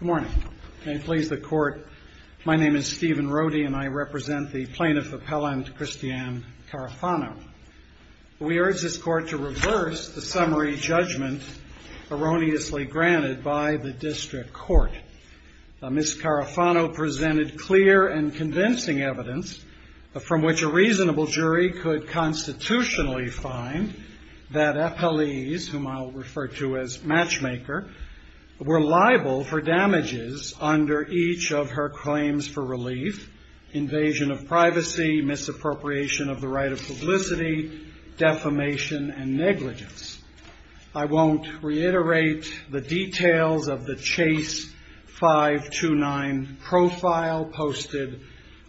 Good morning. May it please the court, my name is Stephen Rohde and I represent the plaintiff appellant Christiane Carafano. We urge this court to reverse the summary judgment erroneously granted by the district court. Ms. Carafano presented clear and convincing evidence from which a reasonable jury could constitutionally find that FLEs, whom I'll refer to as Matchmaker, were liable for damages under each of her claims for relief, invasion of privacy, misappropriation of the right of publicity, defamation, and negligence. I won't reiterate the details of the Chase 529 profile posted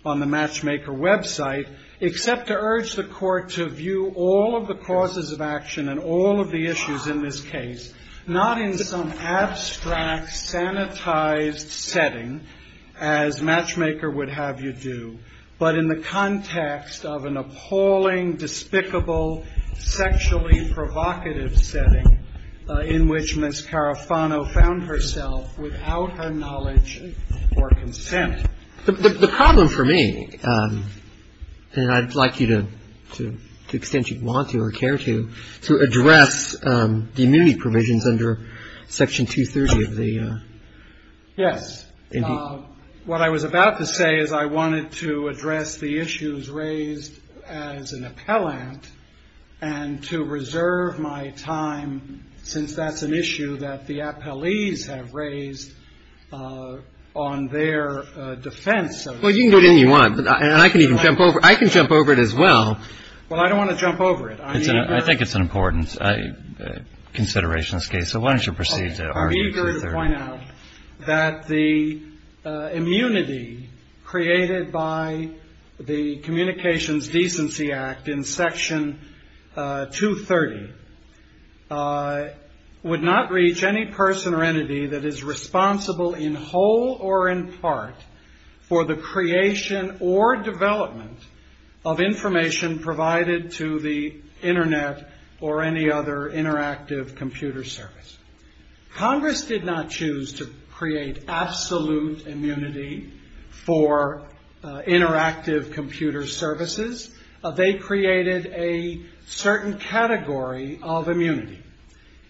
on the Matchmaker website, except to urge the court to view all of the causes of action and all of the issues in this case not in some abstract, sanitized setting, as Matchmaker would have you do, but in the context of an appalling, despicable, sexually provocative setting in which Ms. Carafano found herself without her knowledge or consent. The problem for me, and I'd like you to, to the extent you want to or care to, to address the immunity provisions under Section 230 of the. Yes. Indeed. What I was about to say is I wanted to address the issues raised as an appellant and to reserve my time, since that's an issue that the appellees have raised on their defense of. Well, you can go to any one. And I can even jump over. I can jump over it as well. Well, I don't want to jump over it. I think it's an important consideration in this case. So why don't you proceed to. I'm eager to point out that the immunity created by the Communications Decency Act in Section 230 would not reach any person or entity that is responsible in whole or in part for the creation or development of information provided to the Internet or any other interactive computer service. Congress did not choose to create absolute immunity for interactive computer services. They created a certain category of immunity.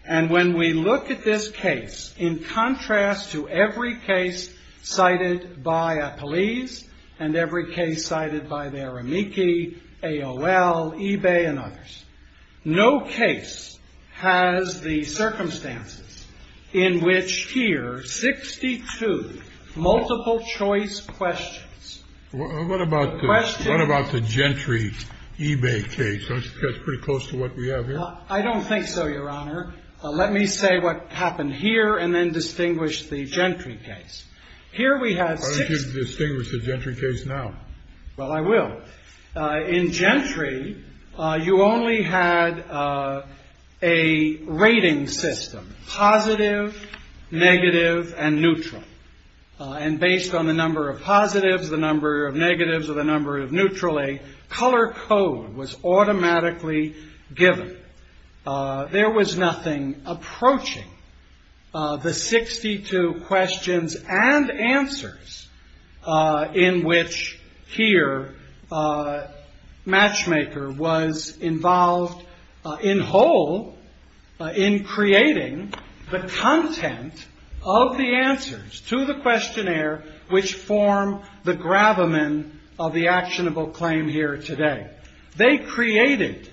And when we look at this case, in contrast to every case cited by a police and every case cited by their amici, AOL, eBay, and others, no case has the circumstances in which here 62 multiple-choice questions. What about the gentry eBay case? That's pretty close to what we have here. I don't think so, Your Honor. Let me say what happened here and then distinguish the gentry case. Why don't you distinguish the gentry case now? Well, I will. In gentry, you only had a rating system, positive, negative, and neutral. And based on the number of positives, the number of negatives, or the number of neutrally, color code was automatically given. There was nothing approaching the 62 questions and answers in which here Matchmaker was involved in whole in creating the content of the answers to the questionnaire, which form the gravamen of the actionable claim here today. They created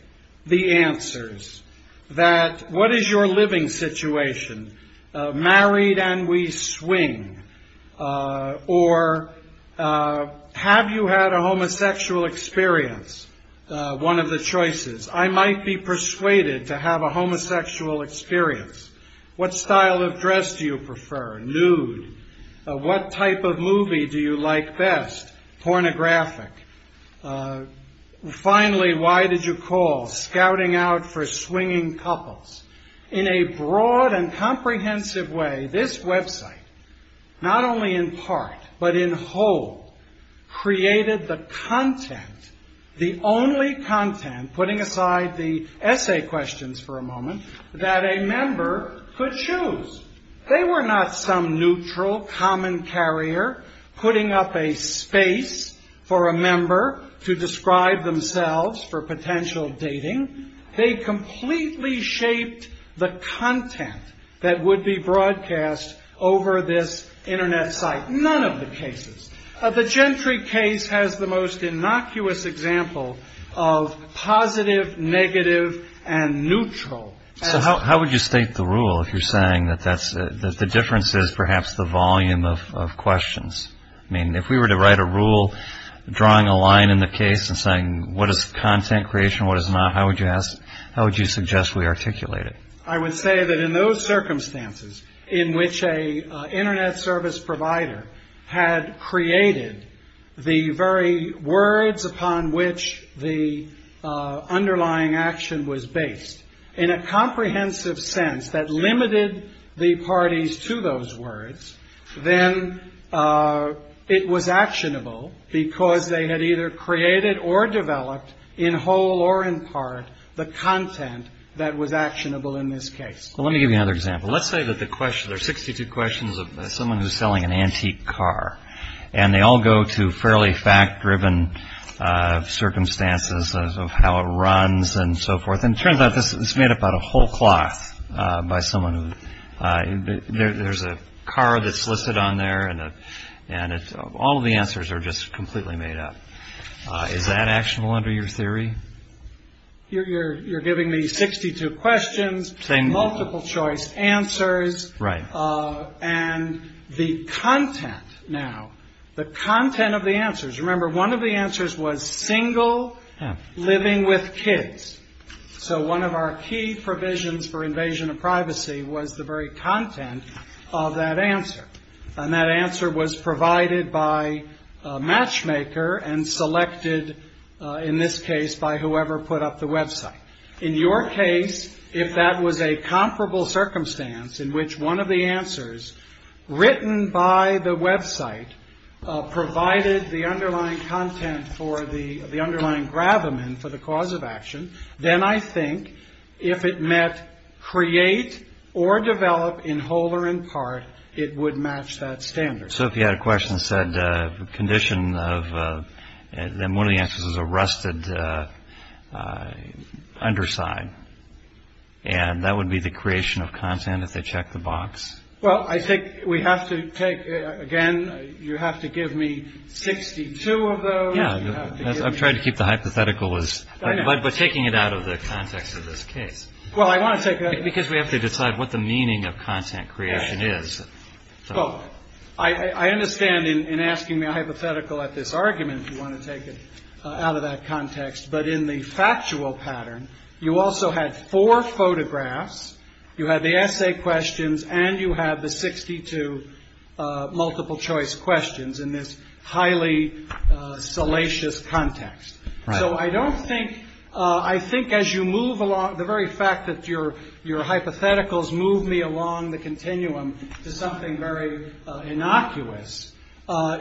the answers that what is your living situation? Married and we swing. Or have you had a homosexual experience? One of the choices. I might be persuaded to have a homosexual experience. What style of dress do you prefer? Nude. What type of movie do you like best? Pornographic. Finally, why did you call? Scouting out for swinging couples. In a broad and comprehensive way, this website, not only in part, but in whole, created the content, the only content, putting aside the essay questions for a moment, that a member could choose. They were not some neutral, common carrier, putting up a space for a member to describe themselves for potential dating. They completely shaped the content that would be broadcast over this Internet site. None of the cases. The Gentry case has the most innocuous example of positive, negative, and neutral. So how would you state the rule if you're saying that the difference is perhaps the volume of questions? I mean, if we were to write a rule drawing a line in the case and saying, what is content creation, what is not, how would you suggest we articulate it? I would say that in those circumstances in which an Internet service provider had created the very words upon which the underlying action was based, in a comprehensive sense that limited the parties to those words, then it was actionable because they had either created or developed, in whole or in part, the content that was actionable in this case. Well, let me give you another example. Let's say that there are 62 questions of someone who's selling an antique car, and they all go to fairly fact-driven circumstances of how it runs and so forth. And it turns out this is made up out of whole cloth by someone. There's a car that's listed on there, and all the answers are just completely made up. Is that actionable under your theory? You're giving me 62 questions, multiple choice answers. Right. And the content now, the content of the answers. Remember, one of the answers was single, living with kids. So one of our key provisions for invasion of privacy was the very content of that answer. And that answer was provided by a matchmaker and selected, in this case, by whoever put up the website. In your case, if that was a comparable circumstance in which one of the answers written by the website provided the underlying content for the underlying gravamen for the cause of action, then I think if it meant create or develop in whole or in part, it would match that standard. So if you had a question that said condition of, then one of the answers is a rusted underside. And that would be the creation of content if they checked the box? Well, I think we have to take, again, you have to give me 62 of those. I've tried to keep the hypothetical, but taking it out of the context of this case. Well, I want to take that. Because we have to decide what the meaning of content creation is. Well, I understand in asking the hypothetical at this argument, you want to take it out of that context. But in the factual pattern, you also had four photographs, you had the essay questions, and you had the 62 multiple choice questions in this highly salacious context. So I don't think, I think as you move along, the very fact that your hypotheticals move me along the continuum to something very innocuous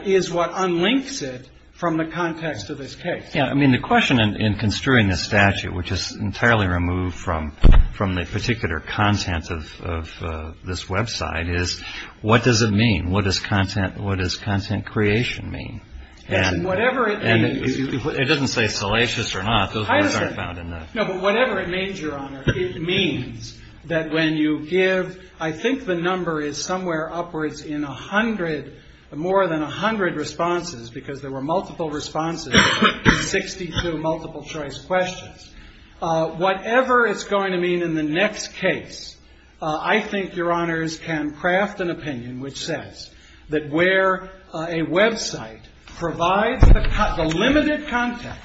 is what unlinks it from the context of this case. I mean, the question in construing this statute, which is entirely removed from from the particular contents of this Web site, is what does it mean? What does content? What does content creation mean? And whatever it doesn't say salacious or not, those words aren't found in that. No, but whatever it means, Your Honor. It means that when you give, I think the number is somewhere upwards in a hundred, more than a hundred responses because there were multiple responses to 62 multiple choice questions. Whatever it's going to mean in the next case, I think Your Honors can craft an opinion which says that where a Web site provides the limited content,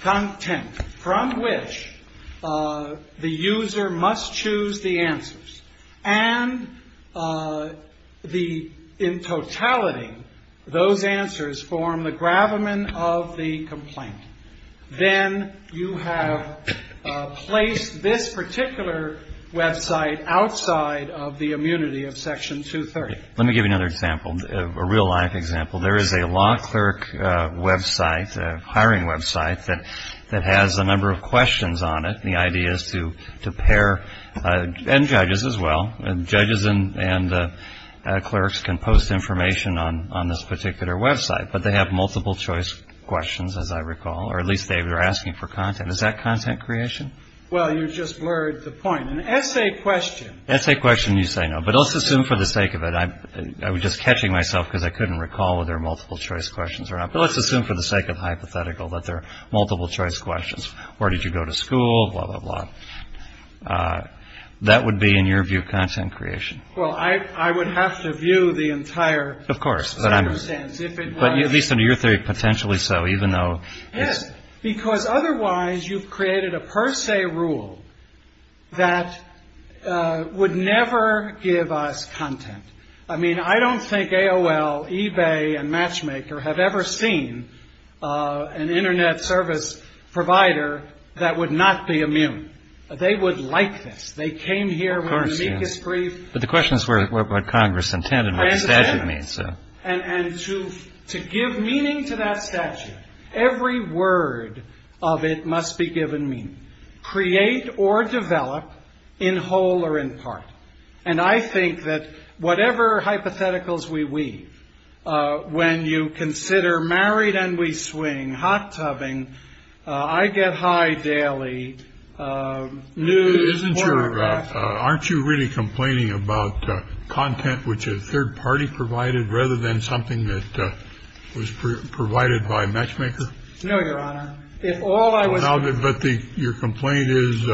content from which the user must choose the answers, and the, in totality, those answers form the gravamen of the complaint, then you have placed this particular Web site outside of the immunity of Section 230. Let me give you another example, a real life example. There is a law clerk Web site, a hiring Web site, that has a number of questions on it. The idea is to pair, and judges as well, judges and clerks can post information on this particular Web site, but they have multiple choice questions, as I recall, or at least they are asking for content. Is that content creation? Well, you just blurred the point. An essay question. An essay question, you say no, but let's assume for the sake of it, I'm just catching myself because I couldn't recall whether there are multiple choice questions or not, but let's assume for the sake of hypothetical that there are multiple choice questions. Where did you go to school? Blah, blah, blah. That would be, in your view, content creation. Well, I would have to view the entire circumstance if it was. But at least under your theory, potentially so, even though it's. Yes, because otherwise you've created a per se rule that would never give us content. I mean, I don't think AOL, eBay and Matchmaker have ever seen an Internet service provider that would not be immune. They would like this. They came here with an amicus brief. But the question is what Congress intended, what the statute means. And to give meaning to that statute, every word of it must be given meaning. Create or develop in whole or in part. And I think that whatever hypotheticals we weave, when you consider married and we swing, hot tubbing, I get high daily. New isn't sure. Aren't you really complaining about content which is third party provided rather than something that was provided by Matchmaker? No, Your Honor. If all I was. But your complaint is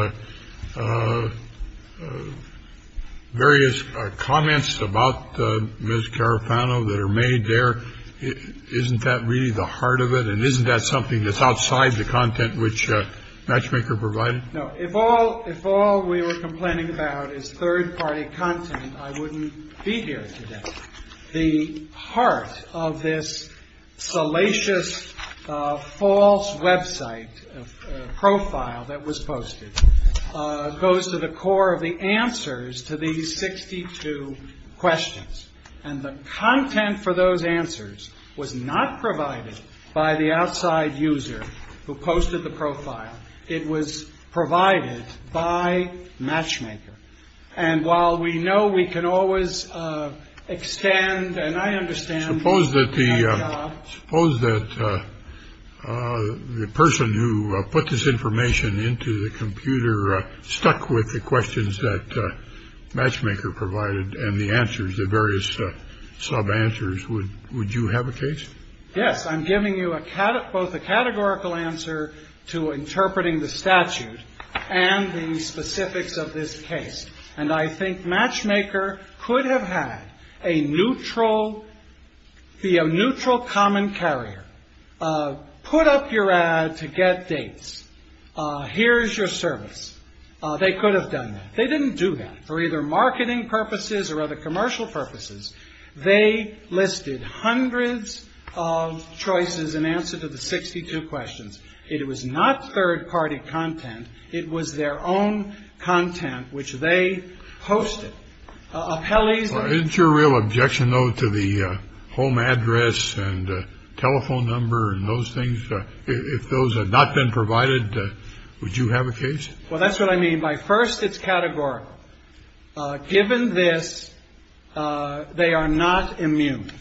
various comments about Miss Carapano that are made there. Isn't that really the heart of it? And isn't that something that's outside the content which Matchmaker provided? No. If all if all we were complaining about is third party content, I wouldn't be here today. The heart of this salacious false website profile that was posted goes to the core of the answers to these 62 questions. And the content for those answers was not provided by the outside user who posted the profile. It was provided by Matchmaker. And while we know we can always extend. And I understand. Suppose that the suppose that the person who put this information into the computer stuck with the questions that Matchmaker provided and the answers, the various sub answers. Would would you have a case? Yes. I'm giving you a cat, both a categorical answer to interpreting the statute and the specifics of this case. And I think Matchmaker could have had a neutral. Be a neutral common carrier. Put up your ad to get dates. Here's your service. They could have done that. They didn't do that for either marketing purposes or other commercial purposes. They listed hundreds of choices in answer to the 62 questions. It was not third party content. It was their own content which they hosted. Appellees. Your real objection, though, to the home address and telephone number and those things. If those had not been provided, would you have a case? Well, that's what I mean by first. It's categorical. Given this, they are not immune.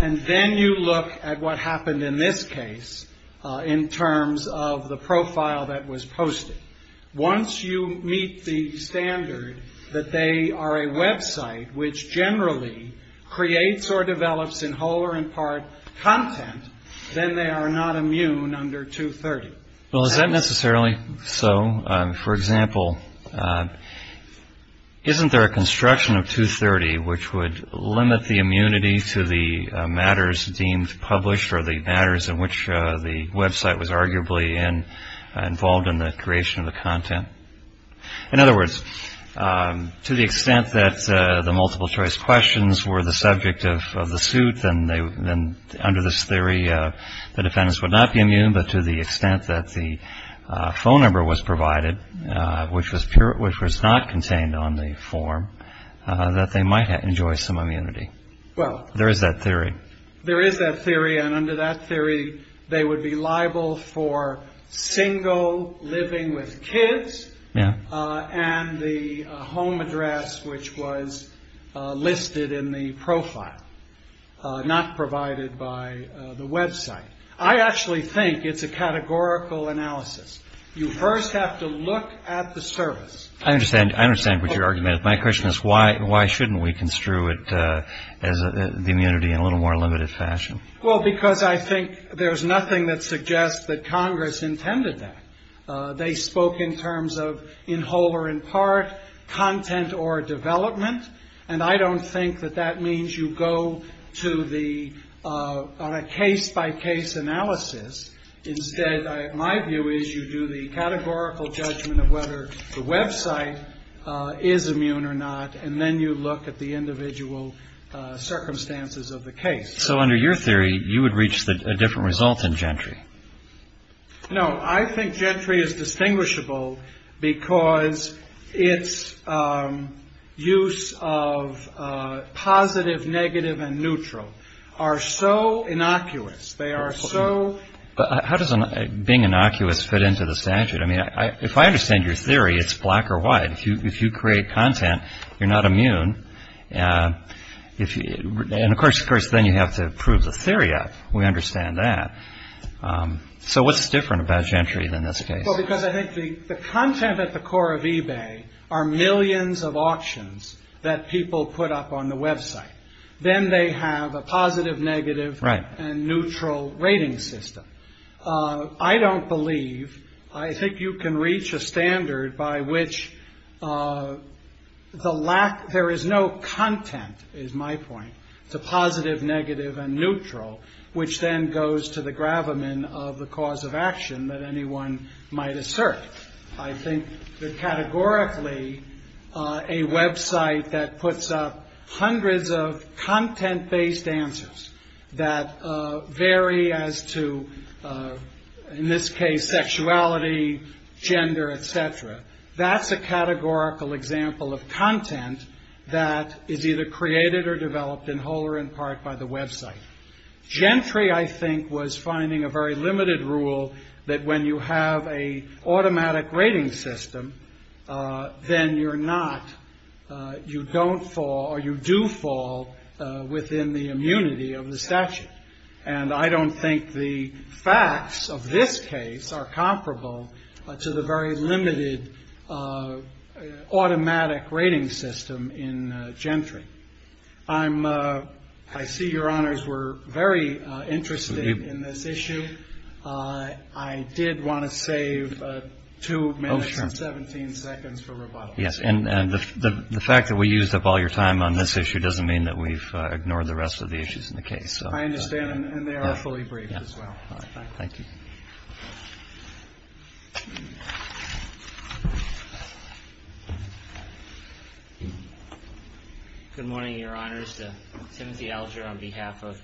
And then you look at what happened in this case in terms of the profile that was posted. Once you meet the standard that they are a Web site which generally creates or develops in whole or in part content, then they are not immune under 230. Well, is that necessarily so? For example, isn't there a construction of 230, which would limit the immunity to the matters deemed published or the matters in which the Web site was arguably in involved in the creation of the content? In other words, to the extent that the multiple choice questions were the subject of the suit, then they then under this theory, the defendants would not be immune. But to the extent that the phone number was provided, which was pure, which was not contained on the form that they might enjoy some immunity. Well, there is that theory. There is that theory. And under that theory, they would be liable for single living with kids. And the home address, which was listed in the profile, not provided by the Web site. I actually think it's a categorical analysis. You first have to look at the service. I understand. I understand what your argument is. My question is, why shouldn't we construe it as the immunity in a little more limited fashion? Well, because I think there's nothing that suggests that Congress intended that. They spoke in terms of in whole or in part content or development. And I don't think that that means you go to the on a case by case analysis. Instead, my view is you do the categorical judgment of whether the Web site is immune or not. And then you look at the individual circumstances of the case. So under your theory, you would reach a different result in Gentry. No, I think Gentry is distinguishable because its use of positive, negative and neutral are so innocuous. They are so. How does being innocuous fit into the statute? I mean, if I understand your theory, it's black or white. If you if you create content, you're not immune. If you. And of course, of course, then you have to prove the theory up. We understand that. So what's different about Gentry than this case? Well, because I think the content at the core of eBay are millions of auctions that people put up on the Web site. Then they have a positive, negative and neutral rating system. I don't believe I think you can reach a standard by which the lack there is no content is my point. It's a positive, negative and neutral, which then goes to the gravamen of the cause of action that anyone might assert. I think that categorically a Web site that puts up hundreds of content based answers that vary as to, in this case, sexuality, gender, et cetera. That's a categorical example of content that is either created or developed in whole or in part by the Web site. Gentry, I think, was finding a very limited rule that when you have a automatic rating system, then you're not. You don't fall or you do fall within the immunity of the statute. And I don't think the facts of this case are comparable to the very limited automatic rating system in Gentry. I'm I see your honors were very interested in this issue. I did want to save two minutes and 17 seconds for rebuttal. Yes. And the fact that we used up all your time on this issue doesn't mean that we've ignored the rest of the issues in the case. So I understand. And they are fully briefed as well. Thank you. Good morning, Your Honors. Timothy Alger on behalf of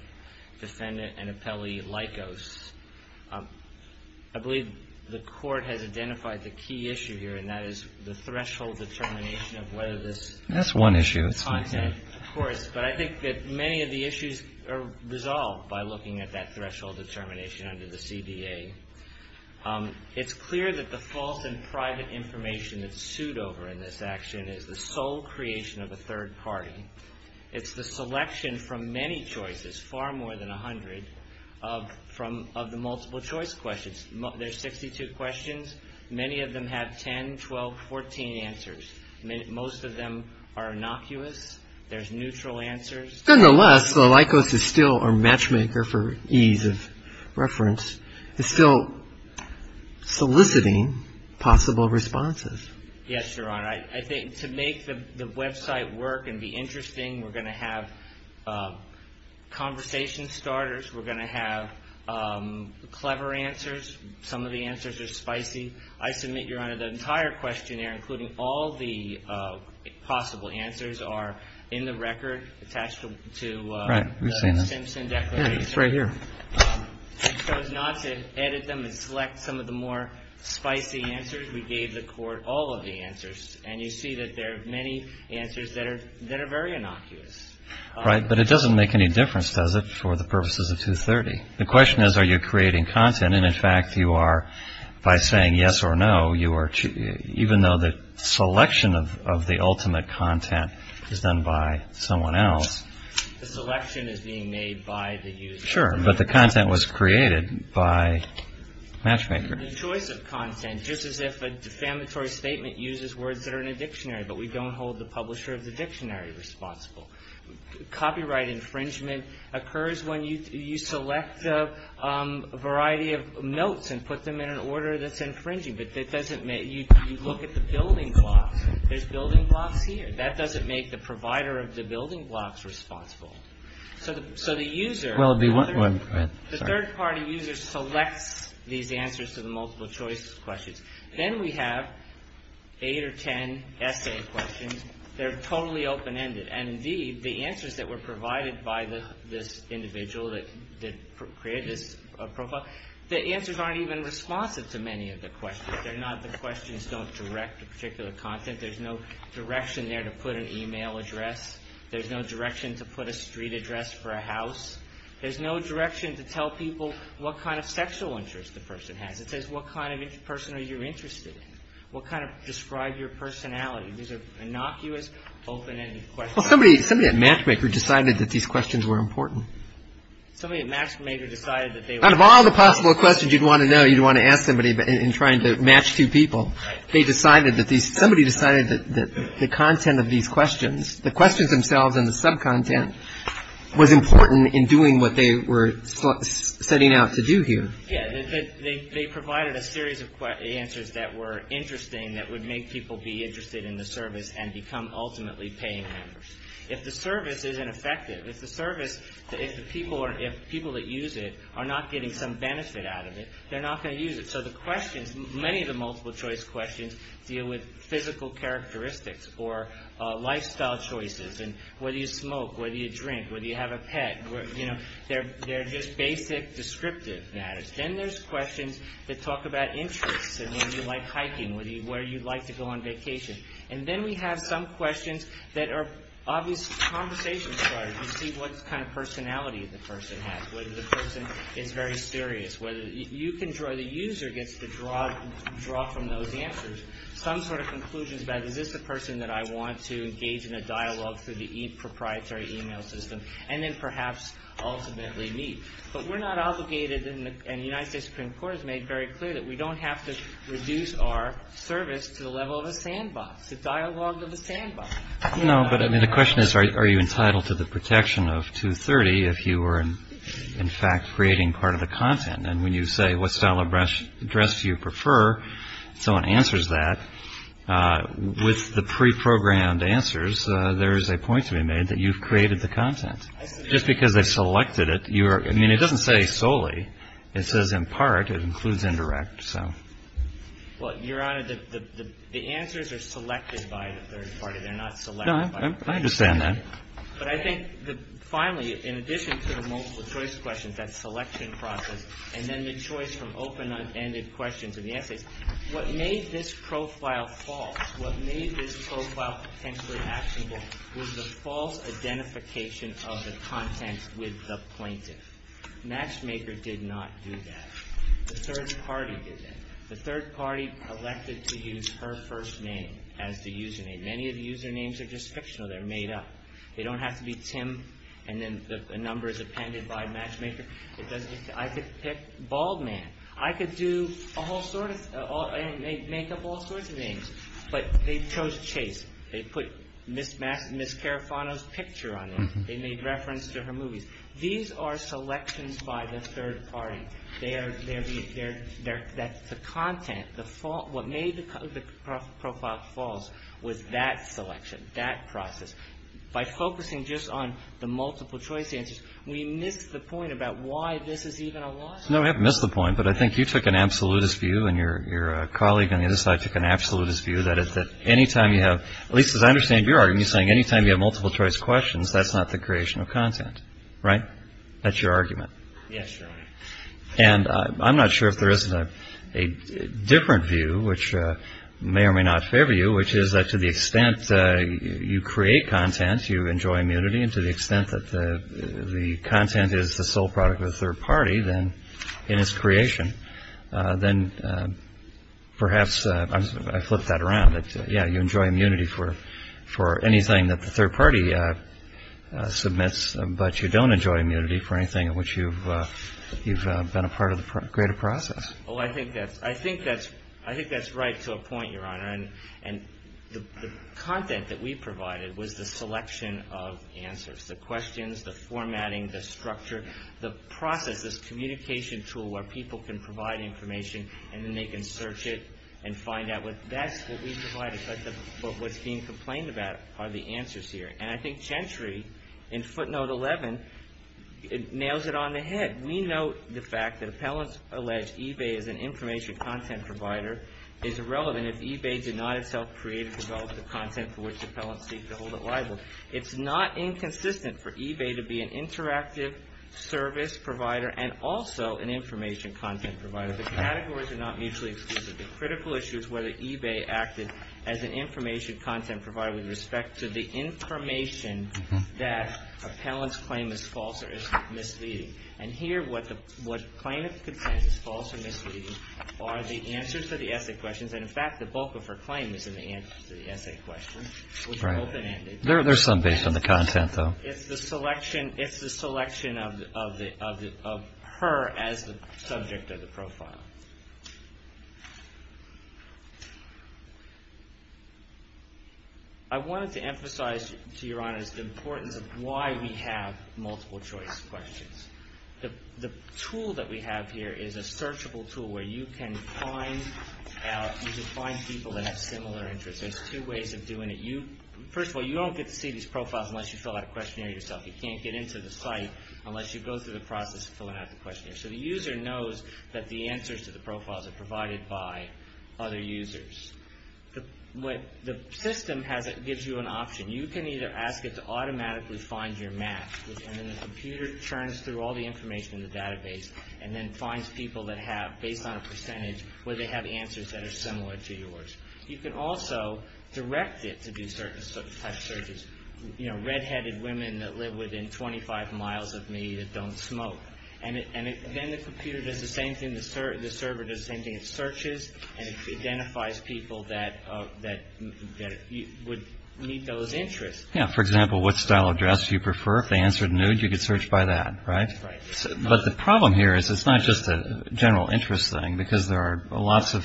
defendant and appellee Lycos. I believe the court has identified the key issue here, and that is the threshold determination of whether this. That's one issue. Of course. But I think that many of the issues are resolved by looking at that threshold determination under the CBA. It's clear that the false and private information that's sued over in this action is the sole creation of a third party. It's the selection from many choices, far more than 100 of from of the multiple choice questions. There's 62 questions. Many of them have 10, 12, 14 answers. Most of them are innocuous. There's neutral answers. Nonetheless, Lycos is still our matchmaker for ease of reference. It's still soliciting possible responses. Yes, Your Honor. I think to make the Web site work and be interesting, we're going to have conversation starters. We're going to have clever answers. Some of the answers are spicy. I submit, Your Honor, the entire questionnaire, including all the possible answers, are in the record attached to the Simpson declaration. Right. We've seen them. It's right here. We chose not to edit them and select some of the more spicy answers. We gave the court all of the answers. And you see that there are many answers that are very innocuous. Right. But it doesn't make any difference, does it, for the purposes of 230? The question is, are you creating content? And in fact, you are by saying yes or no. You are even though the selection of the ultimate content is done by someone else. The selection is being made by the user. Sure. But the content was created by matchmaker. The choice of content, just as if a defamatory statement uses words that are in a dictionary, but we don't hold the publisher of the dictionary responsible. Copyright infringement occurs when you select a variety of notes and put them in an order that's infringing. But that doesn't make you look at the building blocks. There's building blocks here. That doesn't make the provider of the building blocks responsible. So the user, the third party user, selects these answers to the multiple choice questions. Then we have eight or ten essay questions. They're totally open-ended. And indeed, the answers that were provided by this individual that created this profile, the answers aren't even responsive to many of the questions. The questions don't direct to particular content. There's no direction there to put an e-mail address. There's no direction to put a street address for a house. There's no direction to tell people what kind of sexual interest the person has. It says, what kind of person are you interested in? What kind of describe your personality? These are innocuous, open-ended questions. Well, somebody at Matchmaker decided that these questions were important. Somebody at Matchmaker decided that they were important. Out of all the possible questions you'd want to know, you'd want to ask somebody in trying to match two people. Right. Somebody decided that the content of these questions, the questions themselves and the subcontent, was important in doing what they were setting out to do here. Yeah. They provided a series of answers that were interesting, that would make people be interested in the service and become ultimately paying members. If the service isn't effective, if the service, if the people that use it are not getting some benefit out of it, they're not going to use it. So the questions, many of the multiple-choice questions deal with physical characteristics or lifestyle choices and whether you smoke, whether you drink, whether you have a pet. They're just basic, descriptive matters. Then there's questions that talk about interests and whether you like hiking, whether you'd like to go on vacation. And then we have some questions that are obvious conversation starters. You see what kind of personality the person has, whether the person is very serious, whether you can draw, the user gets to draw from those answers. Some sort of conclusions about, is this the person that I want to engage in a dialogue through the proprietary email system? And then perhaps ultimately meet. But we're not obligated, and the United States Supreme Court has made very clear, that we don't have to reduce our service to the level of a sandbox, the dialogue of a sandbox. No, but I mean, the question is, are you entitled to the protection of 230 if you are, in fact, creating part of the content? And when you say, what style of dress do you prefer, someone answers that. With the pre-programmed answers, there is a point to be made that you've created the content. Just because they selected it, you are, I mean, it doesn't say solely. It says in part, it includes indirect, so. Well, Your Honor, the answers are selected by the third party. They're not selected by. No, I understand that. But I think, finally, in addition to the multiple choice questions, that selection process, and then the choice from open-ended questions in the essays, what made this profile false, what made this profile potentially actionable, was the false identification of the content with the plaintiff. Matchmaker did not do that. The third party did that. The third party elected to use her first name as the username. Many of the usernames are just fictional. They're made up. They don't have to be Tim, and then the number is appended by Matchmaker. I could pick Bald Man. I could do a whole sort of, make up all sorts of names. But they chose Chase. They put Ms. Carafano's picture on it. They made reference to her movies. These are selections by the third party. They are, that's the content. What made the profile false was that selection, that process. By focusing just on the multiple choice answers, we missed the point about why this is even a lawsuit. No, we haven't missed the point. But I think you took an absolutist view, and your colleague on the other side took an absolutist view, that anytime you have, at least as I understand your argument, you're saying anytime you have multiple choice questions, that's not the creation of content. Right? That's your argument. Yes, Your Honor. And I'm not sure if there is a different view, which may or may not favor you, which is that to the extent you create content, you enjoy immunity, and to the extent that the content is the sole product of the third party, then in its creation, then perhaps, I flipped that around, you enjoy immunity for anything that the third party submits, but you don't enjoy immunity for anything in which you've been a part of the greater process. Oh, I think that's right to a point, Your Honor. And the content that we provided was the selection of answers, the questions, the formatting, the structure, the process, this communication tool where people can provide information, and then they can search it and find out what, that's what we provided. But what's being complained about are the answers here. And I think Gentry, in footnote 11, nails it on the head. We note the fact that appellants allege eBay as an information content provider is irrelevant if eBay did not itself create and develop the content for which appellants seek to hold it liable. It's not inconsistent for eBay to be an interactive service provider and also an information content provider. The categories are not mutually exclusive. The critical issue is whether eBay acted as an information content provider with respect to the information that appellants claim is false or is misleading. And here, what claim if the content is false or misleading are the answers to the essay questions. And, in fact, the bulk of her claim is in the answers to the essay questions, which are open-ended. There's some based on the content, though. It's the selection of her as the subject of the profile. I wanted to emphasize, to Your Honor, the importance of why we have multiple-choice questions. The tool that we have here is a searchable tool where you can find people that have similar interests. There's two ways of doing it. First of all, you don't get to see these profiles unless you fill out a questionnaire yourself. You can't get into the site unless you go through the process of filling out the questionnaire. So the user knows that the answers to the profiles are provided by other users. The system gives you an option. You can either ask it to automatically find your match, and then the computer churns through all the information in the database and then finds people that have, based on a percentage, answers that are similar to yours. You can also direct it to do certain types of searches. You know, red-headed women that live within 25 miles of me that don't smoke. And then the computer does the same thing, the server does the same thing. It searches and it identifies people that would meet those interests. Yeah. For example, what style of dress do you prefer? If they answered nude, you could search by that, right? Right. But the problem here is it's not just a general interest thing, because there are lots of,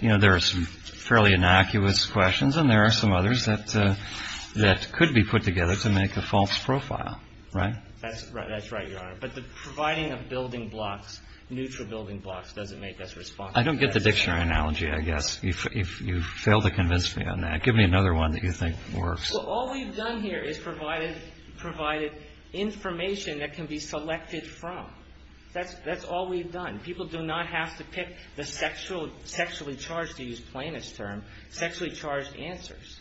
you know, there are some fairly innocuous questions and there are some others that could be put together to make a false profile, right? That's right, Your Honor. But the providing of building blocks, neutral building blocks, doesn't make us responsible. I don't get the dictionary analogy, I guess. You've failed to convince me on that. Give me another one that you think works. Well, all we've done here is provided information that can be selected from. That's all we've done. People do not have to pick the sexually charged, to use Plano's term, sexually charged answers.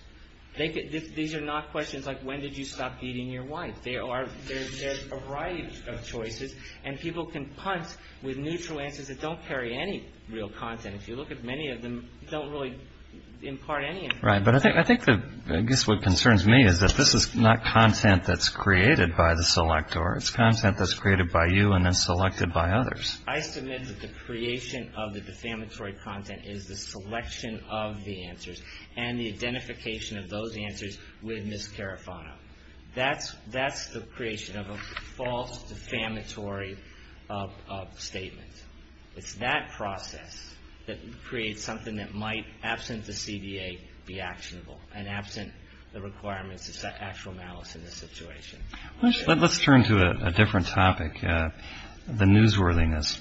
These are not questions like, when did you stop beating your wife? They are, there's a variety of choices, and people can punt with neutral answers that don't carry any real content. If you look at many of them, they don't really impart any information. Right. But I think the, I guess what concerns me is that this is not content that's created by the selector. It's content that's created by you and then selected by others. I submit that the creation of the defamatory content is the selection of the answers and the identification of those answers with Ms. Carafano. That's the creation of a false defamatory statement. It's that process that creates something that might, absent the CDA, be actionable, and absent the requirements of actual malice in this situation. Let's turn to a different topic, the newsworthiness.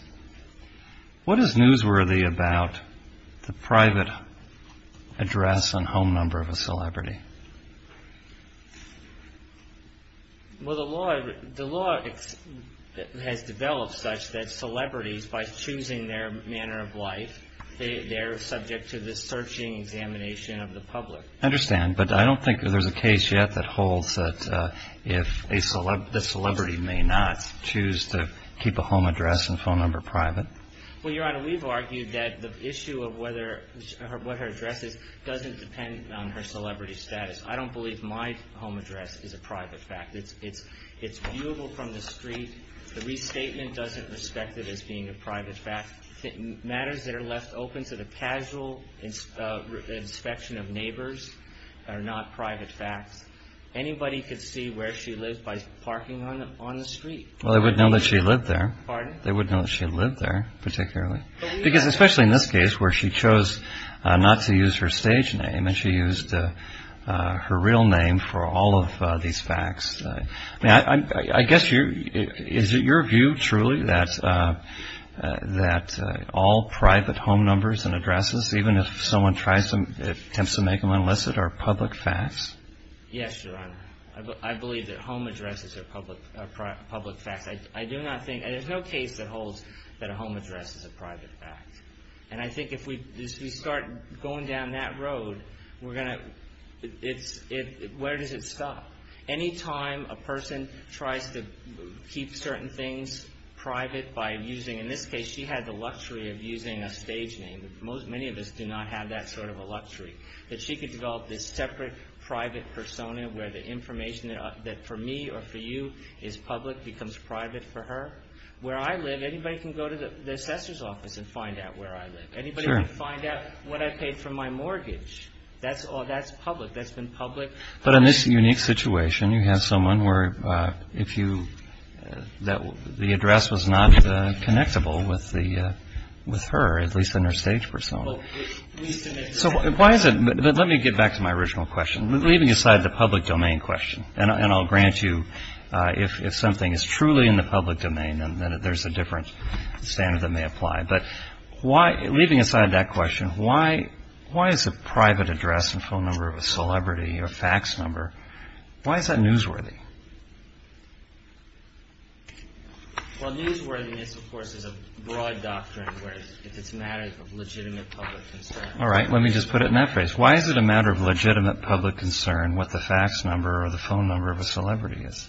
What is newsworthy about the private address and home number of a celebrity? Well, the law has developed such that celebrities, by choosing their manner of life, they're subject to the searching examination of the public. I understand. But I don't think there's a case yet that holds that if a celebrity may not choose to keep a home address and phone number private. Well, Your Honor, we've argued that the issue of what her address is doesn't depend on her celebrity status. I don't believe my home address is a private fact. It's viewable from the street. The restatement doesn't respect it as being a private fact. Matters that are left open to the casual inspection of neighbors are not private facts. Anybody could see where she lives by parking on the street. Well, they would know that she lived there. Pardon? They would know that she lived there, particularly. Because especially in this case where she chose not to use her stage name and she used her real name for all of these facts. I mean, I guess is it your view truly that all private home numbers and addresses, even if someone tries to make them illicit, are public facts? Yes, Your Honor. I believe that home addresses are public facts. I do not think, and there's no case that holds that a home address is a private fact. And I think if we start going down that road, we're going to, where does it stop? Any time a person tries to keep certain things private by using, in this case she had the luxury of using a stage name. That she could develop this separate private persona where the information that for me or for you is public becomes private for her. Where I live, anybody can go to the assessor's office and find out where I live. Anybody can find out what I paid for my mortgage. That's public. That's been public. But in this unique situation, you have someone where if you, the address was not connectable with her, at least in her stage persona. So why is it, let me get back to my original question. Leaving aside the public domain question, and I'll grant you if something is truly in the public domain, then there's a different standard that may apply. But why, leaving aside that question, why is a private address and phone number of a celebrity or a fax number, why is that newsworthy? Well newsworthiness of course is a broad doctrine where it's a matter of legitimate public concern. All right. Let me just put it in that phrase. Why is it a matter of legitimate public concern what the fax number or the phone number of a celebrity is?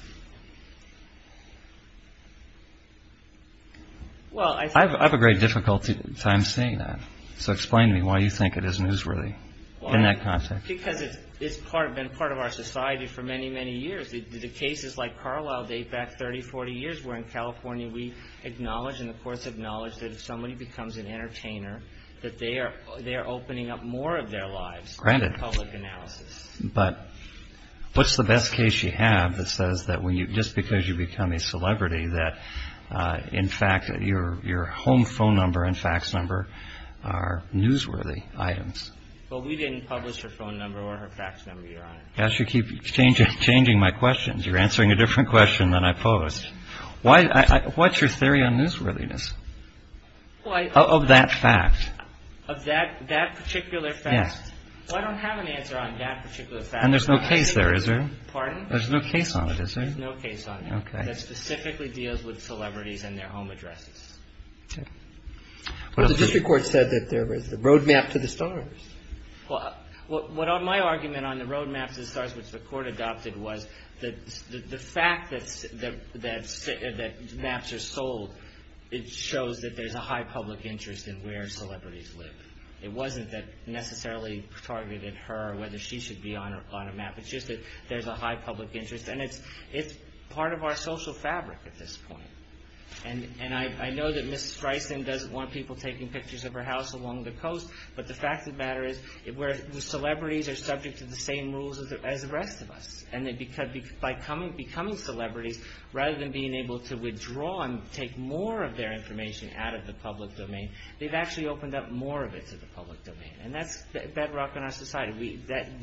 I have a great difficulty at times saying that. So explain to me why you think it is newsworthy in that context. Because it's been part of our society for many, many years. The cases like Carlisle date back 30, 40 years, where in California we acknowledge and of course acknowledge that if somebody becomes an entertainer, that they are opening up more of their lives to public analysis. Granted. But what's the best case you have that says that just because you become a celebrity that in fact your home phone number and fax number are newsworthy items? Well we didn't publish her phone number or her fax number, Your Honor. Gosh, you keep changing my questions. You're answering a different question than I posed. What's your theory on newsworthiness of that fact? Of that particular fact? Yes. Well I don't have an answer on that particular fact. And there's no case there, is there? Pardon? There's no case on it, is there? There's no case on it. Okay. That specifically deals with celebrities and their home addresses. Okay. Well the district court said that there was a road map to the stars. Well what my argument on the road map to the stars which the court adopted was that the fact that maps are sold, it shows that there's a high public interest in where celebrities live. It wasn't that necessarily targeted her or whether she should be on a map. It's just that there's a high public interest. And it's part of our social fabric at this point. And I know that Ms. Streisand doesn't want people taking pictures of her house along the coast, but the fact of the matter is the celebrities are subject to the same rules as the rest of us. And by becoming celebrities, rather than being able to withdraw and take more of their information out of the public domain, they've actually opened up more of it to the public domain. And that's bedrock in our society.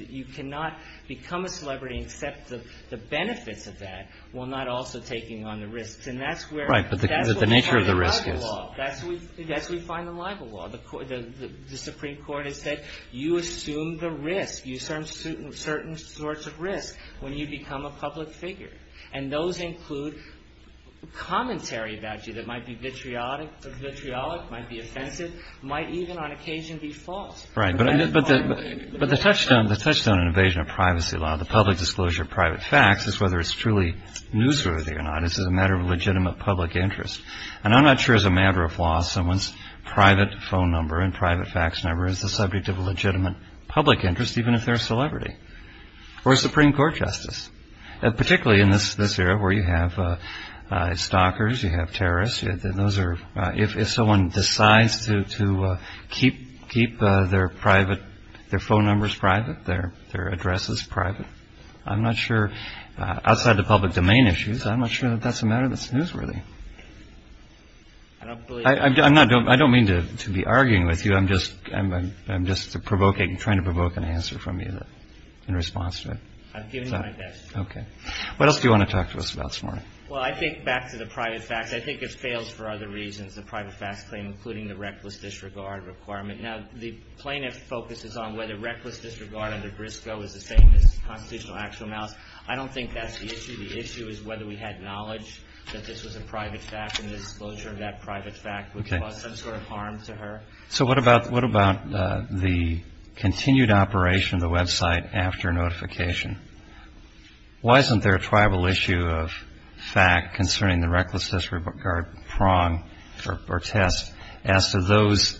You cannot become a celebrity and accept the benefits of that while not also taking on the risks. And that's where the nature of the risk is. Well, that's what we find in libel law. The Supreme Court has said you assume the risk, you assume certain sorts of risk when you become a public figure. And those include commentary about you that might be vitriolic, might be offensive, might even on occasion be false. Right. But the touchstone in evasion of privacy law, the public disclosure of private facts is whether it's truly newsworthy or not. It's a matter of legitimate public interest. And I'm not sure as a matter of law someone's private phone number and private fax number is the subject of a legitimate public interest, even if they're a celebrity or a Supreme Court justice, particularly in this era where you have stalkers, you have terrorists. If someone decides to keep their phone numbers private, their addresses private, I'm not sure. Outside the public domain issues, I'm not sure that that's a matter that's newsworthy. I don't believe that. I don't mean to be arguing with you. I'm just provoking, trying to provoke an answer from you in response to it. I've given you my best. Okay. What else do you want to talk to us about this morning? Well, I think back to the private facts. I think it fails for other reasons, the private facts claim, including the reckless disregard requirement. Now, the plaintiff focuses on whether reckless disregard under Briscoe is the same as constitutional actual amounts. I don't think that's the issue. The issue is whether we had knowledge that this was a private fact and the disclosure of that private fact would cause some sort of harm to her. So what about the continued operation of the website after notification? Why isn't there a tribal issue of fact concerning the reckless disregard prong or test as to those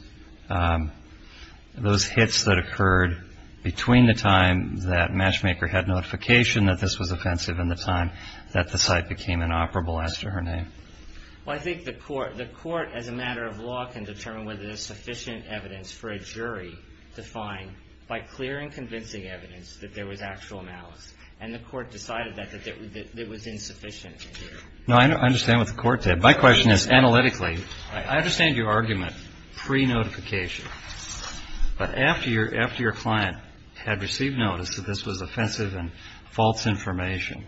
hits that occurred between the time that Matchmaker had notification, that this was offensive, and the time that the site became inoperable as to her name? Well, I think the court, as a matter of law, can determine whether there's sufficient evidence for a jury to find by clearing convincing evidence that there was actual malice. And the court decided that it was insufficient. No, I understand what the court said. My question is analytically. I understand your argument pre-notification. But after your client had received notice that this was offensive and false information,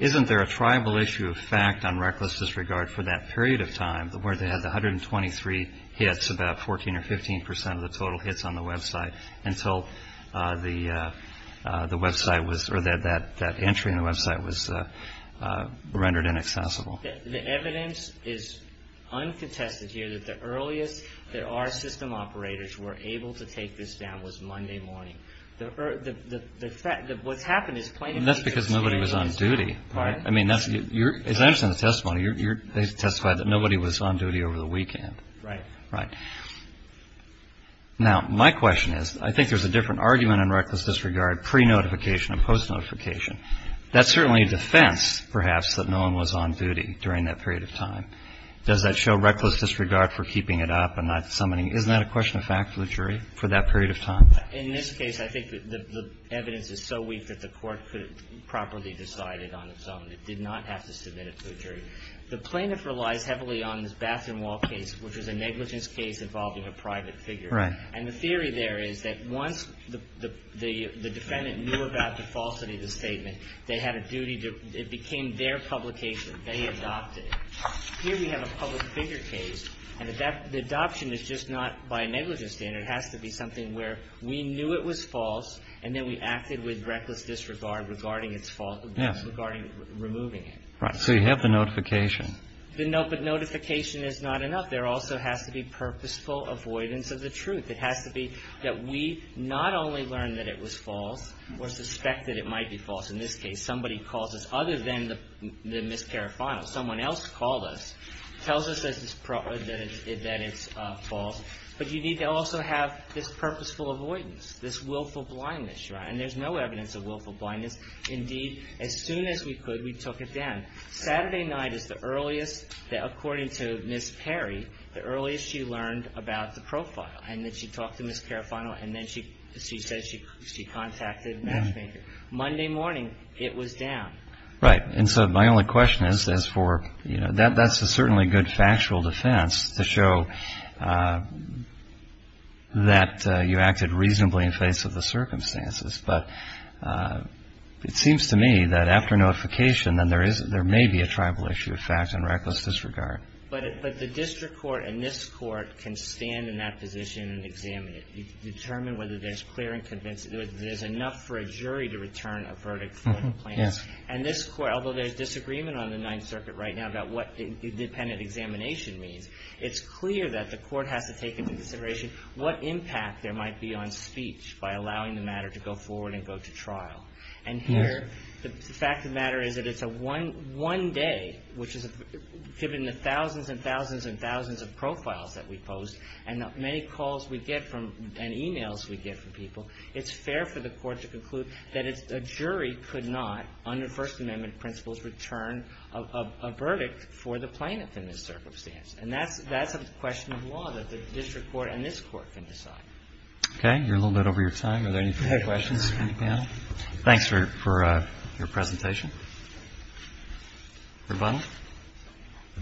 isn't there a tribal issue of fact on reckless disregard for that period of time where they had the 123 hits, about 14 or 15 percent of the total hits on the website, until the website was or that entry in the website was rendered inaccessible? The evidence is uncontested here that the earliest that our system operators were able to take this down was Monday morning. What's happened is plain and simple. And that's because nobody was on duty. As I understand the testimony, they testified that nobody was on duty over the weekend. Right. Right. Now, my question is, I think there's a different argument on reckless disregard pre-notification and post-notification. That's certainly a defense, perhaps, that no one was on duty during that period of time. Does that show reckless disregard for keeping it up and not summoning? Isn't that a question of fact for the jury for that period of time? In this case, I think the evidence is so weak that the court could have properly decided on its own. It did not have to submit it to the jury. The plaintiff relies heavily on this bathroom wall case, which is a negligence case involving a private figure. Right. And the theory there is that once the defendant knew about the falsity of the statement, they had a duty to – it became their publication. They adopted it. Here we have a public figure case, and the adoption is just not by a negligence standard. It has to be something where we knew it was false, and then we acted with reckless disregard regarding its false – regarding removing it. Right. So you have the notification. The notification is not enough. There also has to be purposeful avoidance of the truth. It has to be that we not only learn that it was false or suspect that it might be false – in this case, somebody calls us other than Ms. Carofano. Someone else called us, tells us that it's false. But you need to also have this purposeful avoidance, this willful blindness. Right. And there's no evidence of willful blindness. Indeed, as soon as we could, we took it down. Saturday night is the earliest that, according to Ms. Perry, the earliest she learned about the profile. And then she talked to Ms. Carofano, and then she said she contacted Matchmaker. Monday morning, it was down. Right. And so my only question is, as for, you know, that's a certainly good factual defense to show that you acted reasonably in face of the circumstances. But it seems to me that after notification, then there may be a tribal issue of fact and reckless disregard. But the district court and this court can stand in that position and examine it, determine whether there's clear and convincing – there's enough for a jury to return a verdict for the plaintiff. Yes. And this court, although there's disagreement on the Ninth Circuit right now about what independent examination means, it's clear that the court has to take into consideration what impact there might be on speech by allowing the matter to go forward and go to trial. And here, the fact of the matter is that it's a one day, which is a – given the thousands and thousands and thousands of profiles that we post, and many calls we get from – and e-mails we get from people, it's fair for the court to conclude that a jury could not, under First Amendment principles, return a verdict for the plaintiff in this circumstance. And that's a question of law that the district court and this court can decide. Okay. You're a little bit over your time. Are there any further questions from the panel? Thanks for your presentation. Your Honor.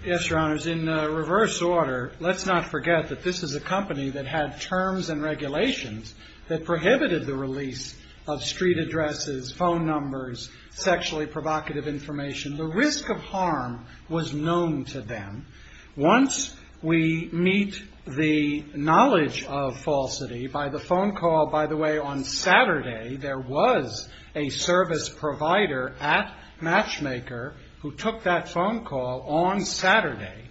Yes, Your Honors. In reverse order, let's not forget that this is a company that had terms and regulations that prohibited the release of street addresses, phone numbers, sexually provocative information. The risk of harm was known to them. Once we meet the knowledge of falsity, by the phone call, by the way, on Saturday, there was a service provider at Matchmaker who took that phone call on Saturday.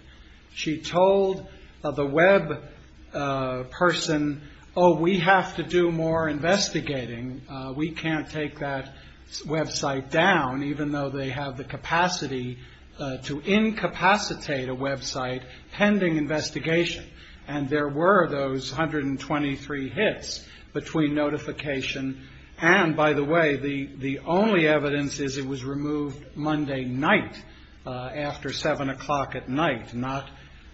She told the web person, oh, we have to do more investigating. We can't take that website down, even though they have the capacity to incapacitate a website pending investigation. And there were those 123 hits between notification and, by the way, the only evidence is it was removed Monday night after 7 o'clock at night, not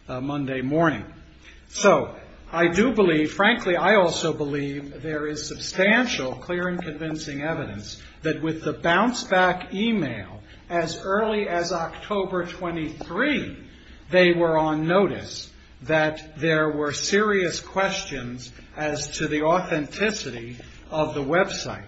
Monday morning. So I do believe, frankly, I also believe there is substantial clear and convincing evidence that with the bounce-back e-mail, as early as October 23, they were on notice that there were serious questions as to the authenticity of the website.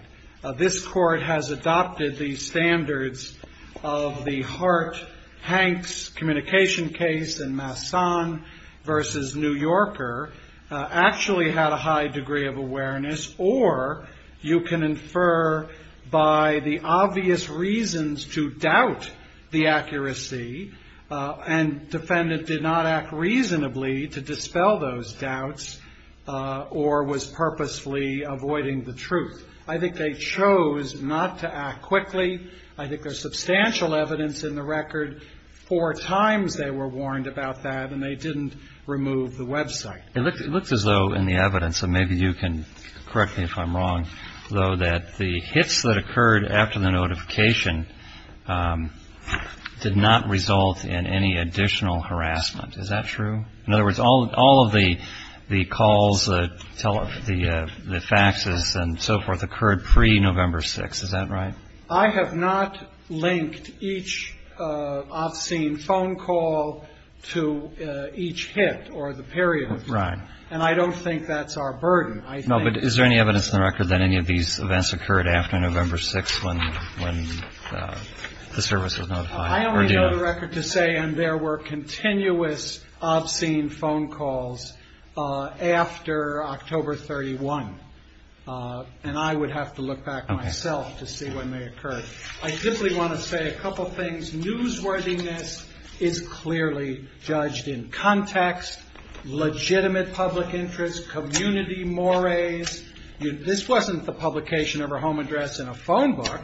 This Court has adopted the standards of the Hart-Hanks communication case in Masson v. New Yorker, actually had a high degree of awareness, or you can infer by the obvious reasons to doubt the accuracy, and defendant did not act reasonably to dispel those doubts or was purposefully avoiding the truth. I think they chose not to act quickly. I think there's substantial evidence in the record. Four times they were warned about that, and they didn't remove the website. It looks as though in the evidence, and maybe you can correct me if I'm wrong, though, that the hits that occurred after the notification did not result in any additional harassment. Is that true? In other words, all of the calls, the faxes and so forth occurred pre-November 6th. Is that right? I have not linked each obscene phone call to each hit or the period. Right. And I don't think that's our burden. No, but is there any evidence in the record that any of these events occurred after November 6th when the service was notified? I only know the record to say, and there were continuous obscene phone calls after October 31. And I would have to look back myself to see when they occurred. I simply want to say a couple things. Newsworthiness is clearly judged in context, legitimate public interest, community mores. This wasn't the publication of a home address in a phone book.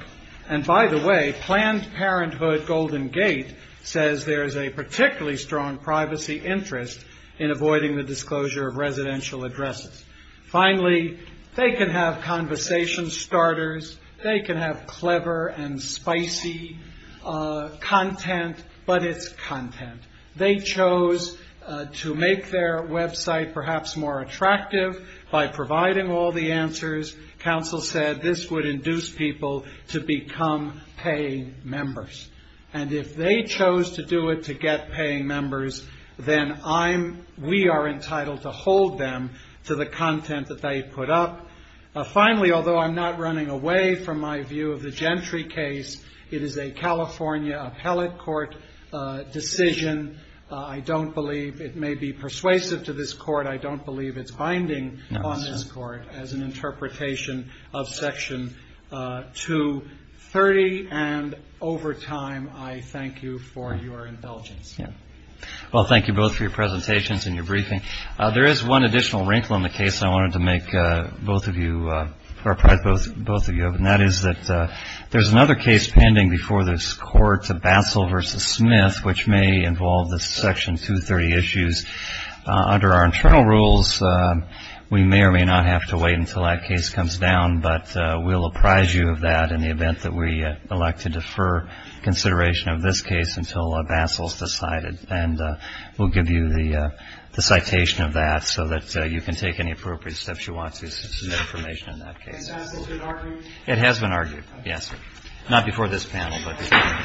And by the way, Planned Parenthood Golden Gate says there is a particularly strong privacy interest in avoiding the disclosure of residential addresses. Finally, they can have conversation starters. They can have clever and spicy content, but it's content. They chose to make their website perhaps more attractive by providing all the answers. Counsel said this would induce people to become paying members. And if they chose to do it to get paying members, then I'm we are entitled to hold them to the content that they put up. Finally, although I'm not running away from my view of the Gentry case, it is a California appellate court decision. I don't believe it may be persuasive to this court. I don't believe it's binding on this court as an interpretation of Section 230. And over time, I thank you for your indulgence. Well, thank you both for your presentations and your briefing. There is one additional wrinkle in the case I wanted to make both of you, or both of you, and that is that there's another case pending before this court, Basel v. Smith, which may involve the Section 230 issues. Under our internal rules, we may or may not have to wait until that case comes down, but we'll apprise you of that in the event that we elect to defer consideration of this case until Basel's decided. And we'll give you the citation of that so that you can take any appropriate steps you want to submit information in that case. Has Basel been argued? It has been argued, yes, sir. Not before this panel, but before.